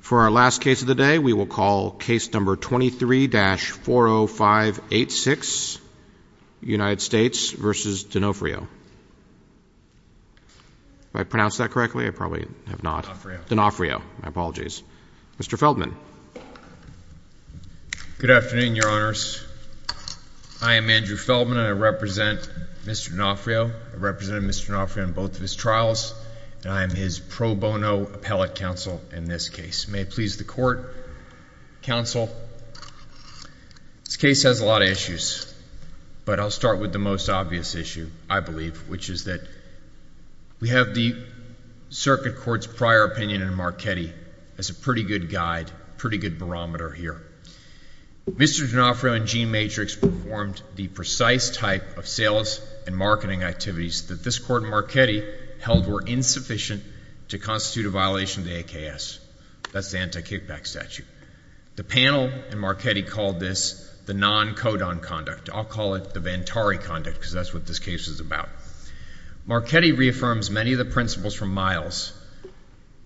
For our last case of the day, we will call case number 23-40586, United States v. Donofrio. Did I pronounce that correctly? I probably have not. Donofrio, my apologies. Mr. Feldman. Good afternoon, your honors. I am Andrew Feldman. I represent Mr. Donofrio. I represented Mr. Donofrio in both of his trials, and I am his pro bono appellate counsel in this case. May it please the court, counsel. This case has a lot of issues, but I'll start with the most obvious issue, I believe, which is that we have the circuit court's prior opinion in Marchetti as a pretty good guide, pretty good barometer here. Mr. Donofrio in Gene Matrix performed the precise type of sales and marketing activities that this court in Marchetti held were insufficient to constitute a violation of the AKS. That's the anti-kickback statute. The panel in Marchetti called this the non-codon conduct. I'll call it the Vantari conduct, because that's what this case is about. Marchetti reaffirms many of the principles from Miles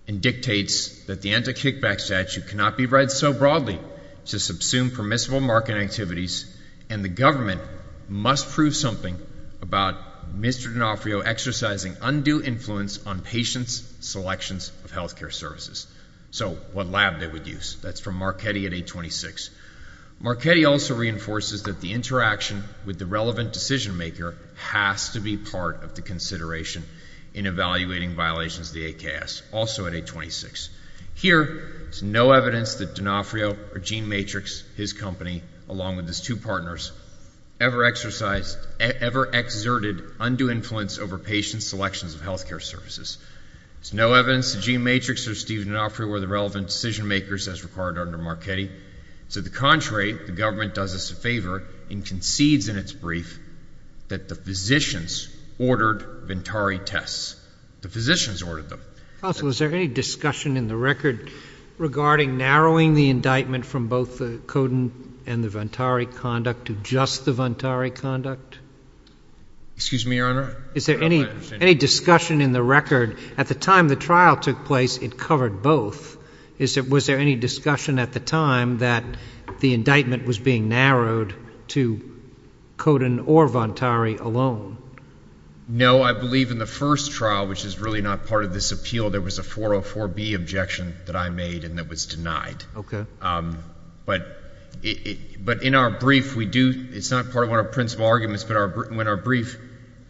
and dictates that the anti-kickback statute cannot be read so broadly to subsume permissible marketing activities, and the government must prove something about Mr. Donofrio exercising undue influence on patients' selections of health care services. So what lab they would use. That's from Marchetti at 826. Marchetti also reinforces that the interaction with the relevant decision maker has to be part of the consideration in evaluating violations of the AKS, also at 826. Here, there's no evidence that Donofrio or Gene Matrix, his company, along with his two partners, ever exercised, ever exerted undue influence over patients' selections of health care services. There's no evidence that Gene Matrix or Steve Donofrio were the relevant decision makers as required under Marchetti. To the contrary, the government does us a favor and concedes in its brief that the physicians ordered Vantari tests. The physicians ordered them. Counsel, is there any discussion in the record regarding narrowing the indictment from both the Coden and the Vantari conduct to just the Vantari conduct? Excuse me, Your Honor? Is there any discussion in the record? At the time the trial took place, it covered both. Was there any discussion at the time that the indictment was being narrowed to Coden or Vantari alone? No, I believe in the first trial, which is really not part of this appeal, there was a 404B objection that I made and that was denied. But in our brief, we do, it's not part of one of our principal arguments, but in our brief,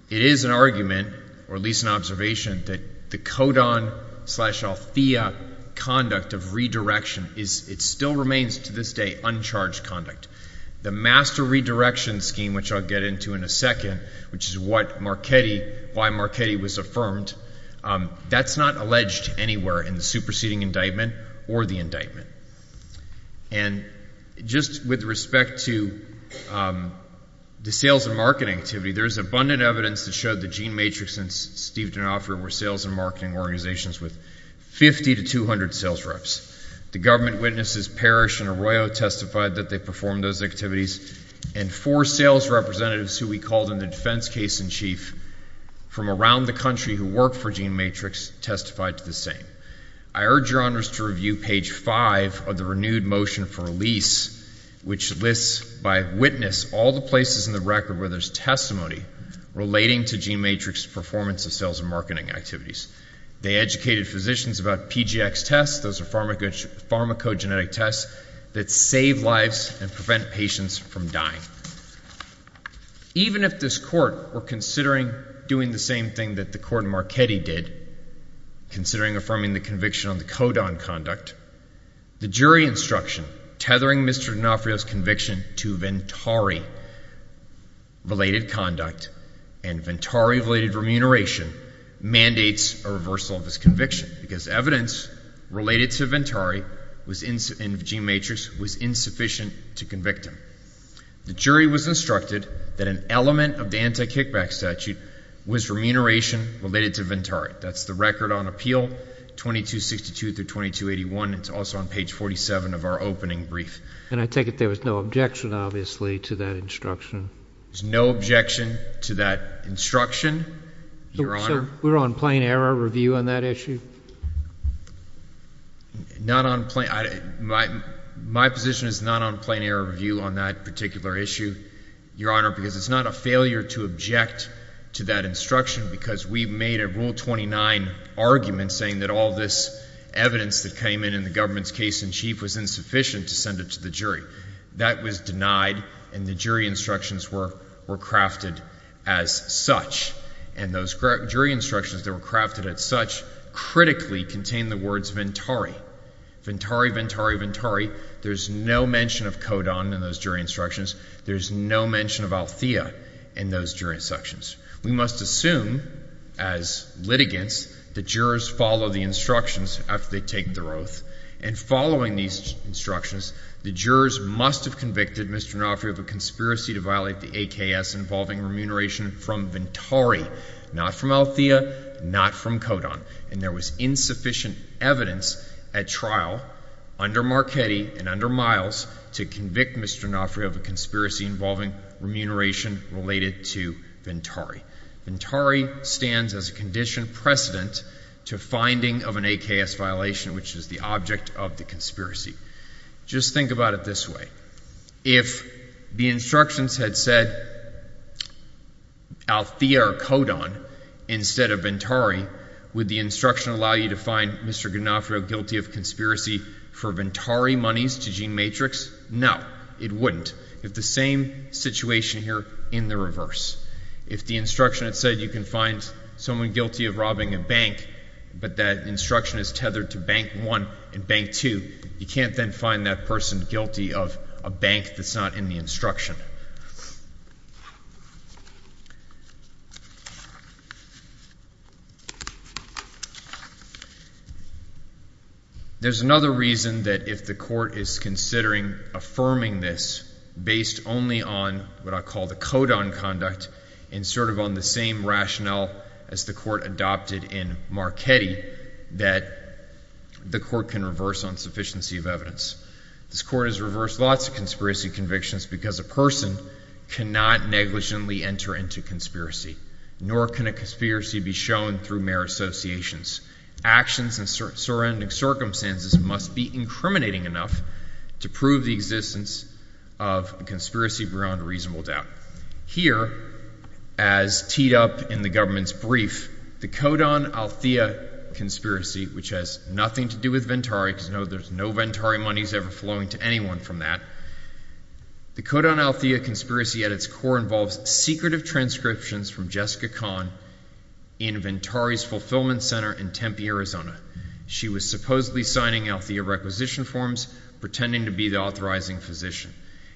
it is an argument, or at least an observation, that the Coden slash Althea conduct of redirection is, it still remains to this day, uncharged conduct. The master redirection scheme, which I'll get into in a second, which is what Marchetti, why Marchetti was affirmed, that's not alleged anywhere in the superseding indictment or the indictment. And just with respect to the sales and marketing activity, there's abundant evidence that showed the Gene Matrix and Steve Donofrio were sales and marketing organizations with 50 to 200 sales reps. The government witnesses Parrish and Arroyo testified that they performed those sales and marketing activities and four sales representatives who we called in the defense case in chief from around the country who work for Gene Matrix testified to the same. I urge your honors to review page five of the renewed motion for release, which lists by witness all the places in the record where there's testimony relating to Gene Matrix performance of sales and marketing activities. They educated physicians about PGX tests, those are pharmacogenetic tests that save lives and prevent patients from dying. Even if this court were considering doing the same thing that the court in Marchetti did, considering affirming the conviction on the Codon conduct, the jury instruction tethering Mr. Donofrio's conviction to Ventari related conduct and Ventari related remuneration mandates a reversal of his conviction because evidence related to Ventari in Gene Matrix was insufficient to convict him. The jury was instructed that an element of the anti-kickback statute was remuneration related to Ventari. That's the record on appeal 2262-2281. It's also on page 47 of our opening brief. And I take it there was no objection, obviously, to that instruction. There's no objection to that instruction, your honor. So we're on plain error review on that issue? Not on plain, my position is not on plain error review on that particular issue, your honor, because it's not a failure to object to that instruction because we've made a rule 29 argument saying that all this evidence that came in in the government's case in chief was insufficient to send it to the jury. That was denied and the jury instructions were crafted as such. And those jury instructions that were crafted as such critically contained the words Ventari. Ventari, Ventari, Ventari. There's no mention of Codon in those jury instructions. There's no mention of Althea in those jury instructions. We must assume as litigants the jurors follow the instructions after they take their oath. And following these instructions, the jurors must have convicted Mr. Naufri of a conspiracy to violate the AKS involving remuneration from Ventari, not from Althea, not from Codon. And there was insufficient evidence at trial under Marchetti and under Miles to convict Mr. Naufri of a conspiracy involving remuneration related to Ventari. Ventari stands as a condition precedent to finding of an AKS violation, which is the object of the conspiracy. Just think about it this way. If the instructions had said Althea or Codon instead of Ventari, would the instruction allow you to find Mr. Naufri guilty of conspiracy for Ventari monies to GeneMatrix? No, it wouldn't. You have the same situation here in the reverse. If the instruction had said you can find someone guilty of robbing a bank, but that instruction is tethered to Bank 1 and Bank 2, you can't then find that person guilty of a bank that's not in the instruction. There's another reason that if the court is considering affirming this based only on what I call the Codon conduct and sort of on the same rationale as the court adopted in Marchetti, that the court can reverse insufficiency of evidence. This court has reversed lots of conspiracy convictions because a person cannot negligently enter into conspiracy, nor can a conspiracy be shown through mere associations. Actions in surrounding circumstances must be incriminating enough to prove the existence of a conspiracy beyond reasonable doubt. Here, as teed up in the government's brief, the Codon Althea conspiracy, which has nothing to do with Ventari because there's no Ventari monies ever flowing to anyone from that. The Codon Althea conspiracy at its core involves secretive transcriptions from Jessica Kahn in Ventari's fulfillment center in Tempe, Arizona. She was supposedly signing Althea requisition forms, pretending to be the authorizing physician.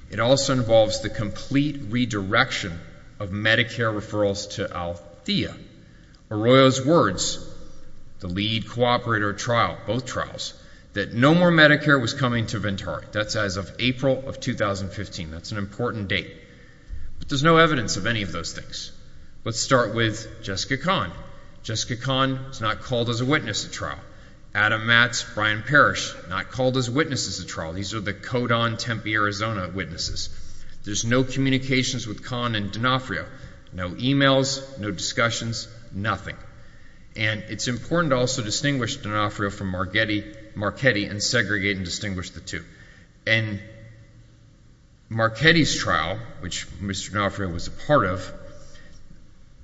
It also involves the complete redirection of Medicare referrals to Althea. Arroyo's words, the lead cooperator trial, both trials, that no more Medicare was coming to Ventari. That's as of April of 2015. That's an important date. But there's no evidence of any of those things. Let's start with Jessica Kahn. Jessica Kahn is not called as a witness at trial. Adam Matz, Brian Parrish, not called as witnesses at trial. These are the Codon Tempe, Arizona witnesses. There's no communications with Kahn and D'Onofrio. No emails, no discussions, nothing. And it's important to also distinguish D'Onofrio from Marchetti and segregate and distinguish the two. And Marchetti's trial which Mr. D'Onofrio was a part of,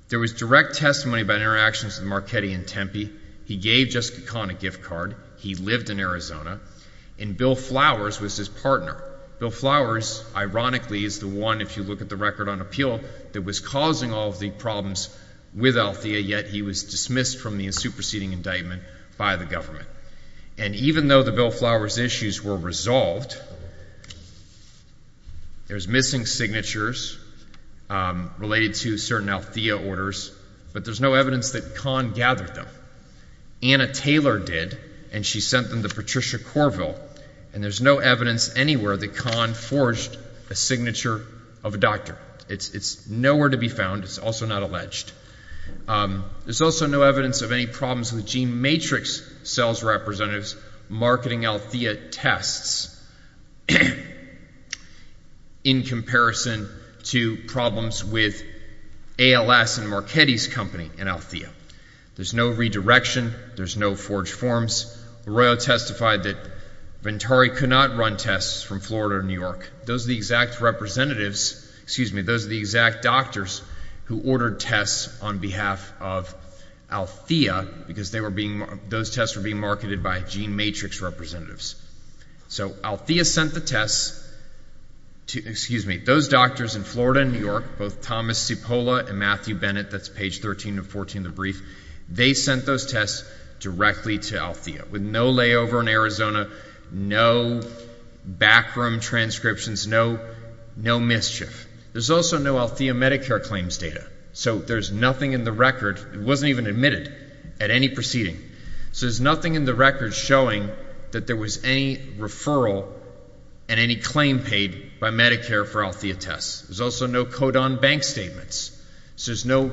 there was direct testimony about interactions with Marchetti in Tempe. He gave Jessica Kahn a gift card. He lived in Arizona. And Bill Flowers was his partner. Bill Flowers, ironically, is the one, if you look at the record on appeal, that was causing all of the problems with Althea, yet he was dismissed from the superseding indictment by the government. And even though the Bill Flowers issues were resolved, there's missing signatures related to certain Althea orders, but there's no evidence that Kahn gathered them. Anna Taylor did, and she sent them to Patricia Corville. And there's no evidence anywhere that Kahn forged a signature of a doctor. It's nowhere to be found. It's also not alleged. There's also no evidence of any problems with GeneMatrix sales representatives marketing Althea tests in comparison to problems with ALS and Marchetti's company in Althea. There's no redirection. There's no forged forms. LaRoyo testified that Ventari could not run tests from Florida or New York. Those are the exact representatives, excuse me, those are the exact doctors who ordered tests on behalf of Althea because those tests were being marketed by GeneMatrix representatives. So Althea sent the tests, excuse me, those doctors in Florida and New York, both Thomas Cipolla and Matthew Bennett, that's page 13 of 14 of the brief, they sent those tests directly to Althea with no layover in Arizona, no backroom transcriptions, no mischief. There's also no Althea Medicare claims data. So there's nothing in the record, it wasn't even admitted at any proceeding. So there's nothing in the record showing that there was any referral and any claim paid by Medicare for Althea tests. There's also no code on bank statements. So there's no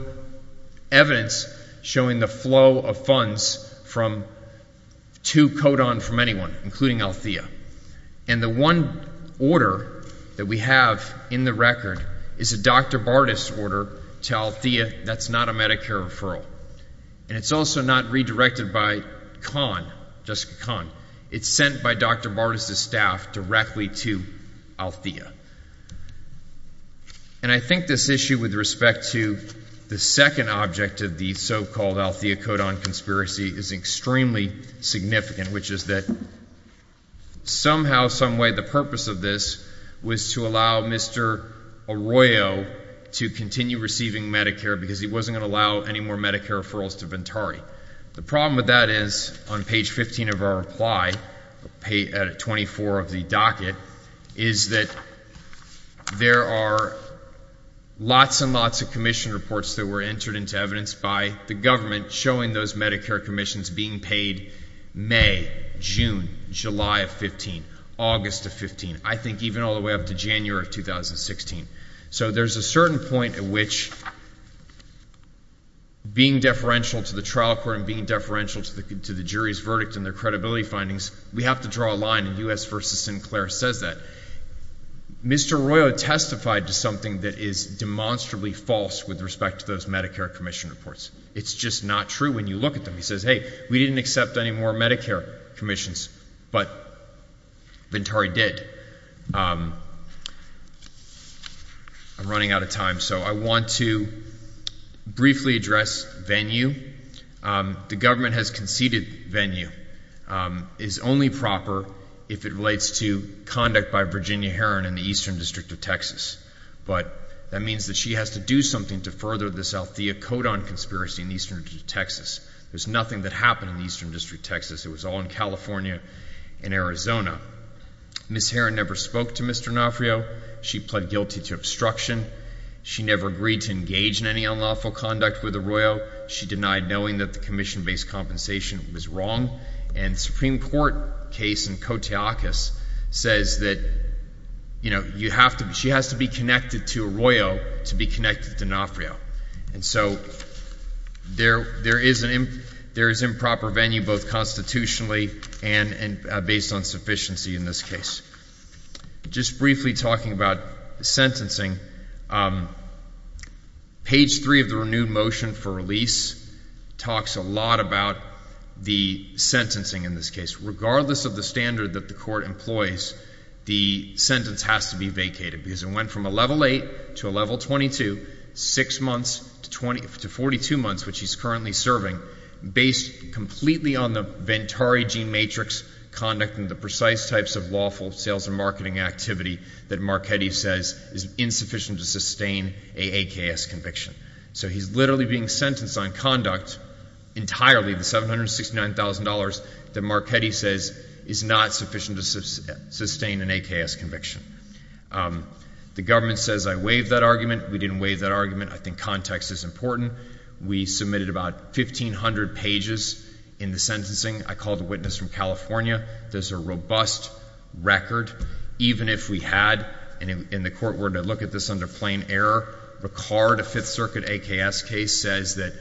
evidence showing the flow of funds from, to code on from anyone, including Althea. And the one order that we have in the record is a Dr. Bartas order to Althea that's not a Medicare referral. And it's also not redirected by Kahn, Jessica Kahn. It's sent by Dr. Bartas' staff directly to Althea. And I think this issue with respect to the second object of the so-called Althea code on conspiracy is extremely significant, which is that somehow, some way, the purpose of this was to allow Mr. Arroyo to continue receiving Medicare because he wasn't going to allow any more Medicare referrals to Ventari. The problem with that is, on page 15 of our reply, page 24 of the docket, is that there are lots and lots of commission reports that were entered into evidence by the government showing those Medicare commissions being paid May, June, July of 15, August of 15, I think even all the way up to January of 2016. So there's a certain point at which, being deferential to the trial court and being deferential to the jury's verdict and their credibility findings, we have to draw a line in U.S. v. Sinclair says that. Mr. Arroyo testified to something that is demonstrably false with respect to those Medicare commission reports. It's just not true when you look at them. He says, hey, we didn't accept any more Medicare commissions, but Ventari did. I'm running out of time, so I want to briefly address venue. The government has conceded venue is only proper if it relates to conduct by Virginia Heron in the Eastern District of Texas. But that means that she has to do something to further this Althea Kodan conspiracy in Eastern Texas. There's nothing that happened in the Eastern District, Texas. It was all in California and Arizona. Miss Heron never spoke to Mr. Nafrio. She pled guilty to obstruction. She never agreed to engage in any unlawful conduct with Arroyo. She denied knowing that the commission based compensation was wrong and Supreme Court case in Kotyakis says that, you know, you have to. She has to be connected to Arroyo to be connected to Nafrio. And so there there is improper venue both constitutionally and based on sufficiency in this case. Just briefly talking about sentencing, page three of the renewed motion for release talks a lot about the sentencing in this case. Regardless of the standard that the court employs, the sentence has to be vacated because it went from a level eight to a level 22, six months to 42 months, which he's currently serving, based completely on the Ventari gene matrix, conduct, and the precise types of lawful sales and marketing activity that Marchetti says is insufficient to sustain a AKS conviction. So he's literally being sentenced on conduct entirely, the $769,000 that Marchetti says is not sufficient to sustain an AKS conviction. The government says I waived that argument. We didn't waive that argument. I think context is important. We submitted about 1,500 pages in the sentencing. I called a witness from California. There's a robust record even if we had in the court were to look at this under plain error. Ricard, a Fifth Circuit AKS case, says that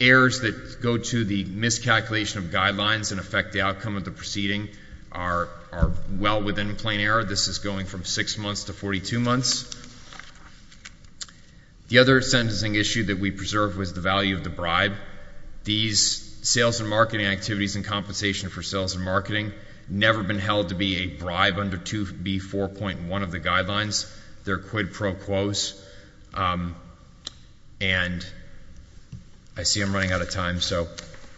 errors that go to the miscalculation of guidelines and from six months to 42 months. The other sentencing issue that we preserved was the value of the bribe. These sales and marketing activities and compensation for sales and marketing never been held to be a bribe under 2B4.1 of the guidelines. They're quid pro quos. And I see I'm running out of time, so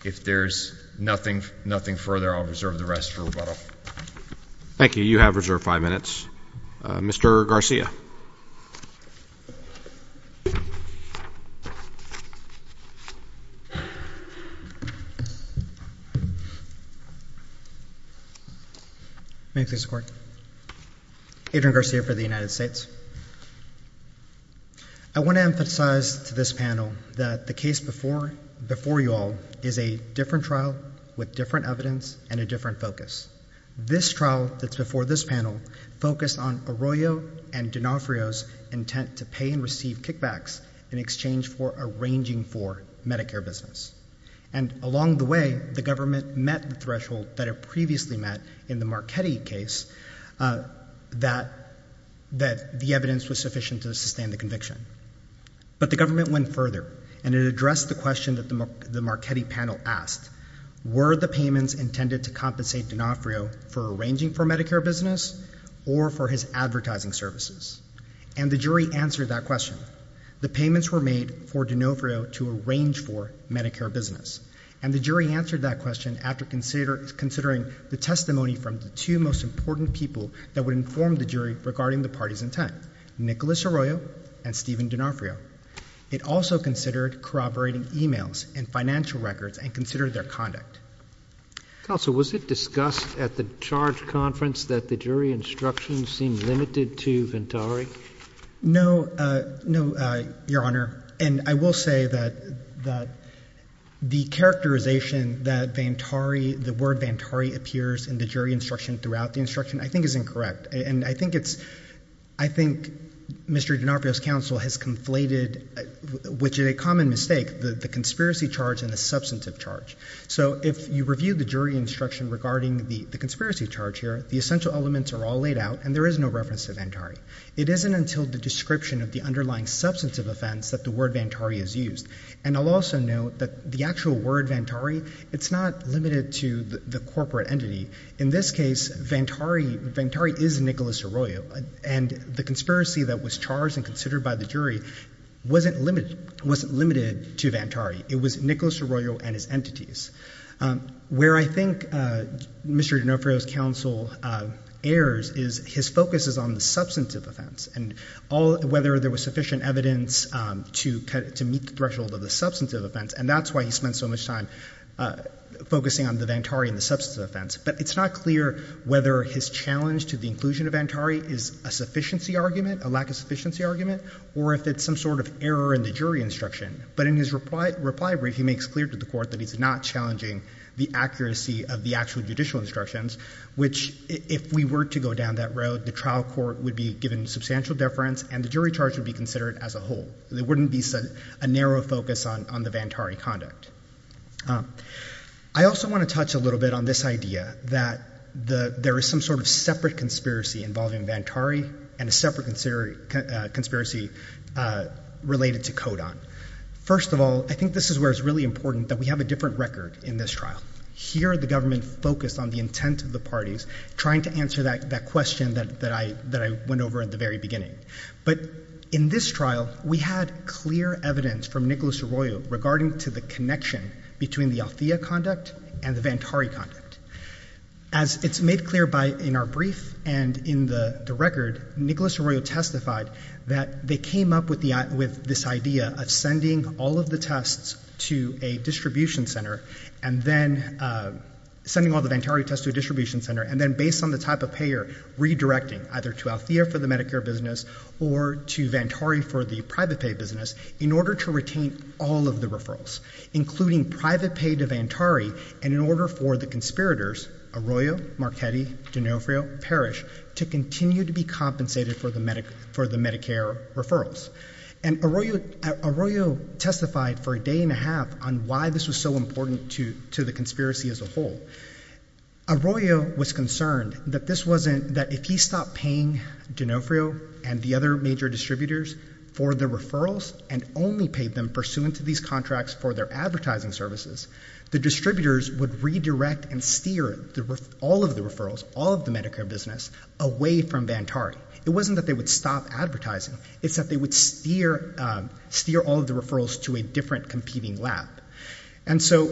if there's nothing further, I'll reserve the rest for rebuttal. Thank you. You have reserved five minutes. Mr. Garcia. May I please report? Adrian Garcia for the United States. I want to emphasize to this panel that the case before you all is a different trial with different evidence and a different focus. This trial that's before this panel focused on Arroyo and D'Onofrio's intent to pay and receive kickbacks in exchange for arranging for Medicare business. And along the way, the government met the threshold that it previously met in the Marchetti case that the evidence was sufficient to sustain the conviction. But the government went further and it addressed the question that the Marchetti panel asked. Were the payments intended to compensate D'Onofrio for arranging for Medicare business or for his advertising services? And the jury answered that question. The payments were made for D'Onofrio to arrange for Medicare business. And the jury answered that question after considering the testimony from the two most important people that would inform the jury regarding the party's intent, Nicolas Arroyo and Stephen D'Onofrio. It also considered corroborating emails and financial records and considered their conduct. Counsel, was it discussed at the charge conference that the jury instructions seemed limited to Vantari? No, no, Your Honor. And I will say that the characterization that Vantari, the word Vantari appears in the jury instruction throughout the instruction, I think is incorrect. And I think it's, I think Mr. D'Onofrio's counsel has conflated, which is a common mistake, the conspiracy charge and the substantive charge. So if you review the jury instruction regarding the conspiracy charge here, the essential elements are all laid out and there is no reference to Vantari. It isn't until the description of the underlying substantive offense that the word Vantari is used. And I'll also note that the actual word Vantari, it's not limited to the corporate entity. In this case, Vantari is Nicolas Arroyo. And the conspiracy that was charged and considered by the jury wasn't limited to Vantari. It was Nicolas Arroyo and his entities. Where I think Mr. D'Onofrio's counsel errs is his focus is on the substantive offense and whether there was sufficient evidence to meet the threshold of the substantive offense. And that's why he spent so much time focusing on the Vantari and the substantive offense. But it's not clear whether his challenge to the inclusion of Vantari is a sufficiency argument, a lack of sufficiency argument, or if it's some sort of error in the jury instruction. But in his reply brief, he makes clear to the court that he's not challenging the accuracy of the actual judicial instructions, which if we were to go down that road, the trial court would be given substantial deference and the jury charge would be considered as a whole. There wouldn't be a narrow focus on the Vantari conduct. I also want to touch a little bit on this idea that there is some sort of separate conspiracy involving Vantari and a separate conspiracy related to Codon. First of all, I think this is where it's really important that we have a different record in this trial. Here the government focused on the intent of the parties, trying to answer that question that I went over at the very beginning. But in this trial, we had clear evidence from Nicolas Arroyo regarding to the connection between the Althea conduct and the Vantari conduct. As it's made clear in our brief and in the record, Nicolas Arroyo testified that they came up with this idea of sending all of the tests to a distribution center and then, sending all the Vantari tests to a distribution center and then based on the type of payer, redirecting either to Althea for the Medicare business or to Vantari for the private pay business in order to retain all of the referrals, including private pay to Vantari and in order for the conspirators, Arroyo, Marchetti, D'Onofrio, Parrish, to continue to be compensated for the Medicare referrals. And Arroyo testified for a day and a half on why this was so important to the conspiracy as a whole. Arroyo was concerned that if he stopped paying D'Onofrio and the distributors would redirect and steer all of the referrals, all of the Medicare business away from Vantari. It wasn't that they would stop advertising, it's that they would steer all of the referrals to a different competing lab. And so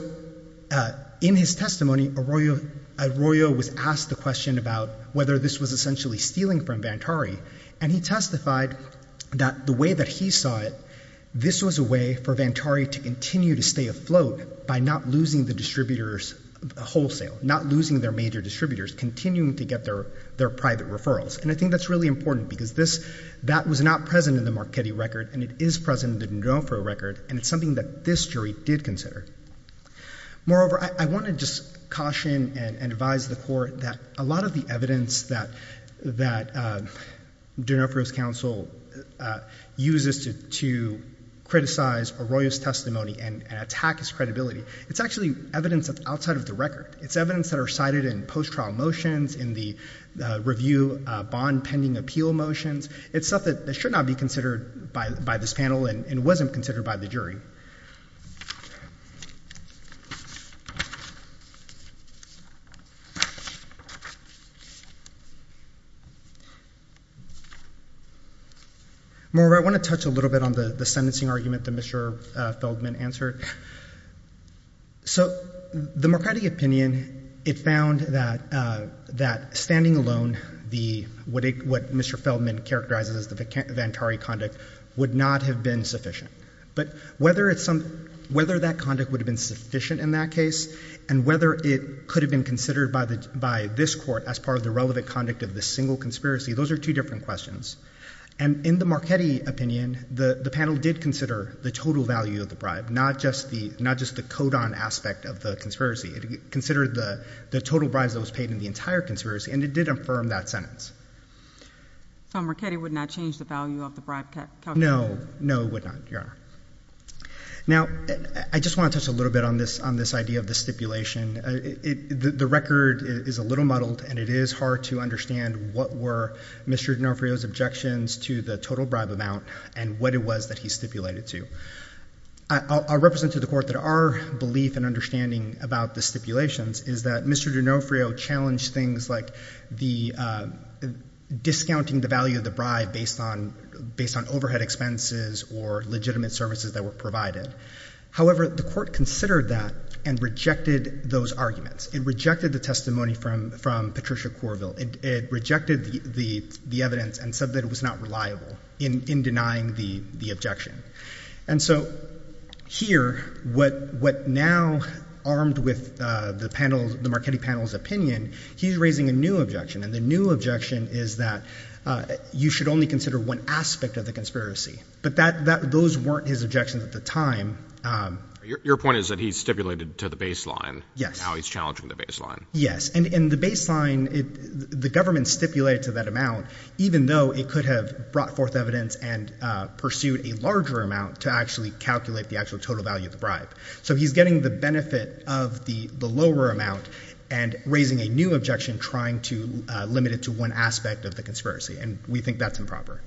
in his testimony, Arroyo was asked the question about whether this was essentially stealing from Vantari and he testified that the way that he saw it, this was a way for Vantari to continue to stay afloat by not losing the distributors wholesale, not losing their major distributors, continuing to get their private referrals. And I think that's really important because that was not present in the Marchetti record and it is present in the D'Onofrio record and it's something that this jury did consider. Moreover, I want to just caution and advise the court that a lot of the evidence that D'Onofrio's counsel uses to criticize Arroyo's testimony and attack his credibility, it's actually evidence outside of the record. It's evidence that are cited in post-trial motions, in the review bond pending appeal motions. It's stuff that should not be considered by this panel and wasn't considered by the jury. Moreover, I want to touch a little bit on the sentencing argument that Mr. Feldman answered. So the Marchetti opinion, it found that standing alone, what Mr. Feldman characterizes as the Vantari conduct, would not have been sufficient. But whether that conduct would have been sufficient in that case and whether it could have been considered by this court as part of the relevant conduct of the single conspiracy, those are two different questions. And in the Marchetti opinion, the panel did consider the total value of the bribe, not just the code on aspect of the conspiracy. It considered the total bribes that was paid in the entire conspiracy and it did affirm that sentence. So Marchetti would not change the value of the bribe calculation? No, no it would not. Now, I just want to touch a little bit on this idea of the stipulation. The record is a little muddled and it is hard to understand what were Mr. D'Onofrio's objections to the total bribe amount and what it was that he stipulated to. I'll represent to the court that our belief and understanding about the stipulations is that Mr. D'Onofrio challenged things like discounting the value of the bribe based on overhead expenses or legitimate services that were provided. However, the court considered that and rejected those arguments. It rejected the testimony from Patricia Corville. It rejected the evidence and said that it was not reliable in denying the objection. And so here, what now armed with the Marchetti panel's opinion, he's raising a new objection. And the new objection is that you should only consider one aspect of the conspiracy. But those weren't his objections at the time. Your point is that he stipulated to the baseline how he's challenging the baseline. Yes. And the baseline, the government stipulated to that amount even though it could have brought forth evidence and pursued a larger amount to actually calculate the actual total value of the bribe. So he's getting the benefit of the lower amount and raising a new objection trying to limit it to one aspect of the conspiracy. And we think that's improper.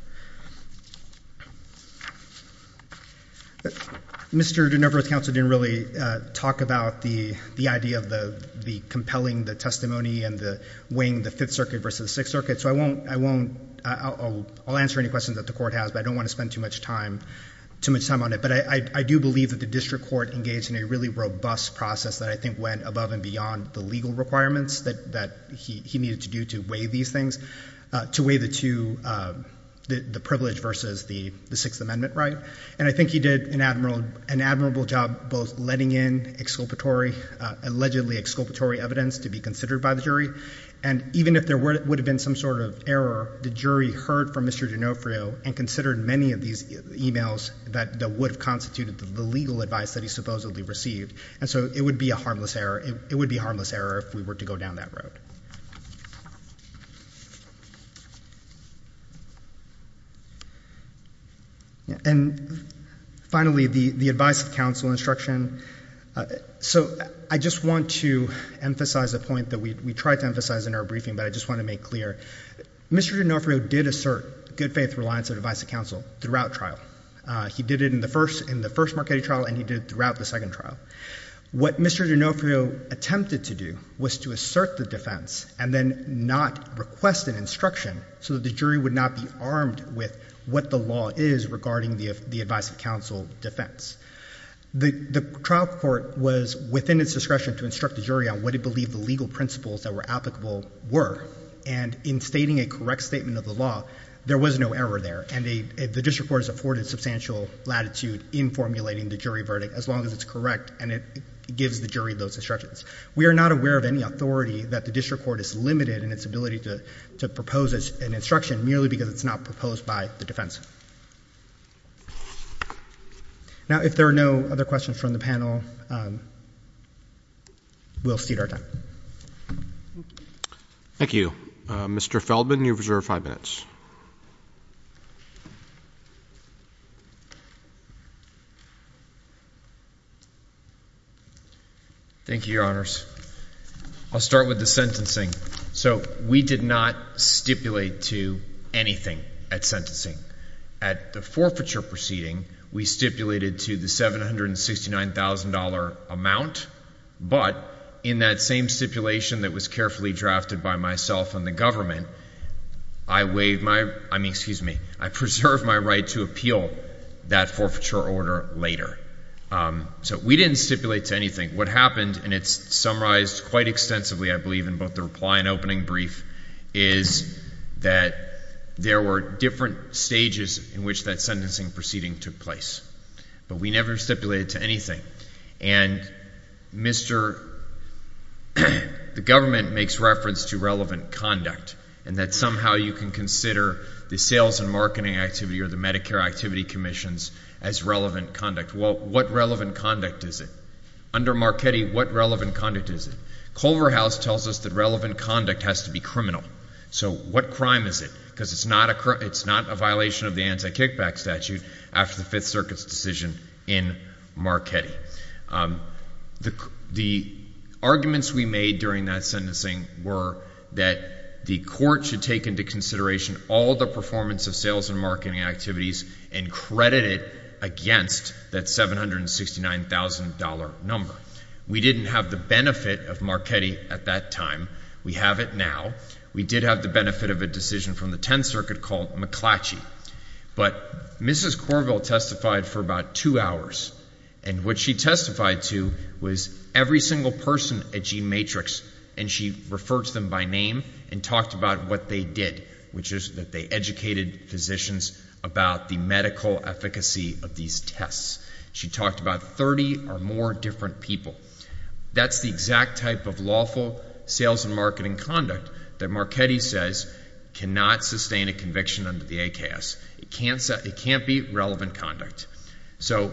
Mr. D'Onofrio's counsel didn't really talk about the idea of compelling the testimony and weighing the Fifth Circuit versus the Sixth Circuit. So I won't, I'll answer any questions that the court has, but I don't want to spend too much time on it. But I do believe that the district court engaged in a really robust process that I think went above and beyond the legal requirements that he needed to do to weigh these things, to weigh the two, the privilege versus the Sixth Amendment right. And I think he did an admirable job both letting in exculpatory, allegedly exculpatory evidence to be considered by the jury. And even if there would have been some sort of error, the jury heard from Mr. D'Onofrio and considered many of these emails that would have constituted the legal advice that he supposedly received. And so it would be a harmless error, it would be a harmless error if we were to go down that road. And finally, the advice of counsel instruction. So I just want to emphasize a point that we tried to emphasize in our briefing, but I just want to make clear. Mr. D'Onofrio did assert good faith reliance on advice of counsel throughout trial. He did it in the first, in the first Marchetti trial and he did it throughout the second trial. What Mr. D'Onofrio attempted to do was to assert the defense and then not request an instruction so that the jury would not be armed with what the law is regarding the advice of counsel defense. The trial court was within its discretion to instruct the jury on what it believed the legal principles that were applicable were. And in stating a correct statement of the law, there was no error there. And the district court has afforded substantial latitude in formulating the jury verdict as long as it's correct and it gives the jury those instructions. We are not aware of any authority that the district court is limited in its ability to propose an instruction merely because it's not proposed by the defense. Now, if there are no other questions from the panel, we'll cede our time. Thank you. Mr. Feldman, you have reserved five minutes. Thank you, Your Honors. I'll start with the sentencing. So we did not stipulate to anything at sentencing. At the forfeiture proceeding, we stipulated to the $769,000 amount. But in that same stipulation that was carefully drafted by myself and the government, I preserved my right to appeal that forfeiture order later. So we didn't stipulate to anything. What happened, and it's summarized quite extensively, I believe, in both the reply and opening brief, is that there were different stages in which that sentencing proceeding took place. But we never stipulated to anything. And Mr. — the government makes reference to relevant conduct and that somehow you can consider the sales and marketing activity or the Medicare Activity Commissions as relevant conduct. Well, what relevant conduct is it? Under Marchetti, what relevant conduct is it? Culverhouse tells us that relevant conduct has to be criminal. So what crime is it? Because it's not a violation of the anti-kickback statute after the Fifth Circuit's decision in Marchetti. The arguments we made during that sentencing were that the court should take into consideration all the performance of sales and marketing activities and credit it against that $769,000 number. We didn't have the benefit of Marchetti at that time. We have it now. We did have the benefit of a decision from the Tenth Circuit called McClatchy. But Mrs. Corville testified for about two hours. And what she testified to was every single person at G-Matrix, and she referred to them by name and talked about what they did, which is that they educated physicians about the medical efficacy of these tests. She talked about 30 or more different people. That's the exact type of lawful sales and marketing conduct that Marchetti says cannot sustain a conviction under the AKS. It can't be relevant conduct. So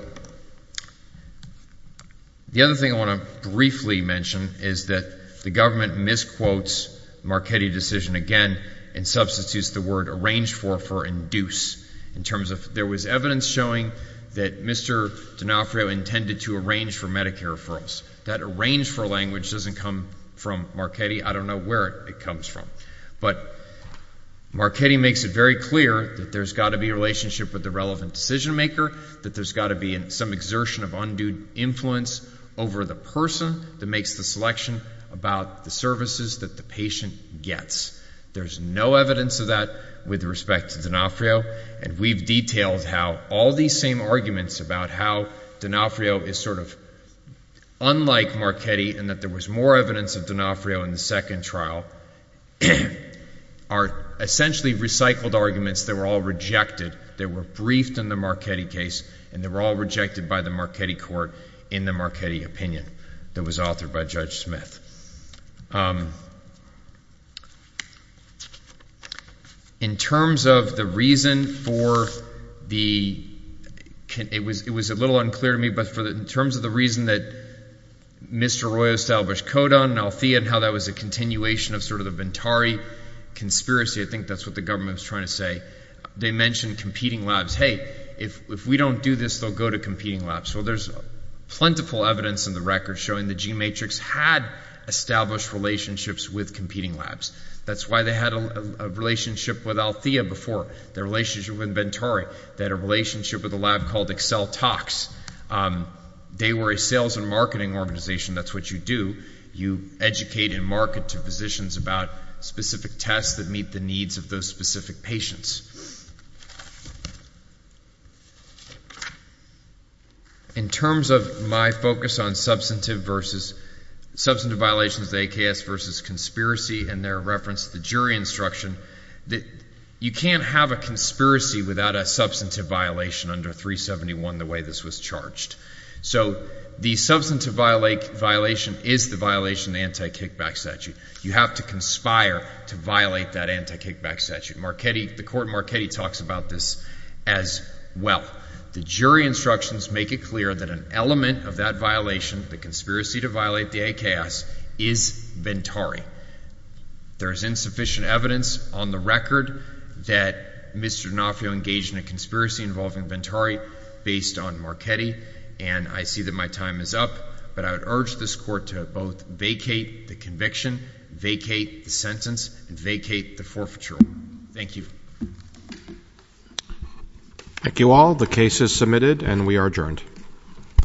the other thing I want to briefly mention is that the government misquotes Marchetti decision again and substitutes the word arranged for for induce in terms of there was evidence showing that Mr. D'Onofrio intended to arrange for Medicare referrals. That arrange for language doesn't come from Marchetti. I don't know where it comes from. But Marchetti makes it very clear that there's got to be a relationship with the relevant decision maker, that there's got to be some exertion of undue influence over the person that makes the selection about the services that the patient gets. There's no evidence of that with respect to D'Onofrio, and we've detailed how all these same arguments about how D'Onofrio is sort of unlike Marchetti and that there was more evidence of D'Onofrio in the second trial are essentially recycled arguments that were all rejected, that were briefed in the Marchetti case, and they were all rejected by the Marchetti court in the Marchetti opinion that was authored by Judge Smith. In terms of the reason for the, it was a little unclear to me, but in terms of the reason that Mr. Roy established CODA and Althea and how that was a continuation of sort of the Ventari conspiracy, I think that's what the government was trying to say. They mentioned competing labs. Hey, if we don't do this, they'll go to competing labs. Well, there's plentiful evidence in the record showing the G-Matrix had established relationships with competing labs. That's why they had a relationship with Althea before, their relationship with Ventari. They had a relationship with a lab called Excel Talks. They were a sales and marketing organization. That's what you do. You educate and market to physicians about specific tests that meet the needs of those specific patients. In terms of my focus on substantive violations, the AKS versus conspiracy and their reference, the jury instruction, you can't have a conspiracy without a substantive violation under 371 the way this was charged. So the substantive violation is the violation of the anti-kickback statute. Marchetti, the court Marchetti talks about this as well. The jury instructions make it clear that an element of that violation, the conspiracy to violate the AKS is Ventari. There's insufficient evidence on the record that Mr. D'Onofrio engaged in a conspiracy involving Ventari based on Marchetti. And I see that my time is up, but I would urge this court to both vacate the conviction, vacate the sentence, and vacate the forfeiture order. Thank you.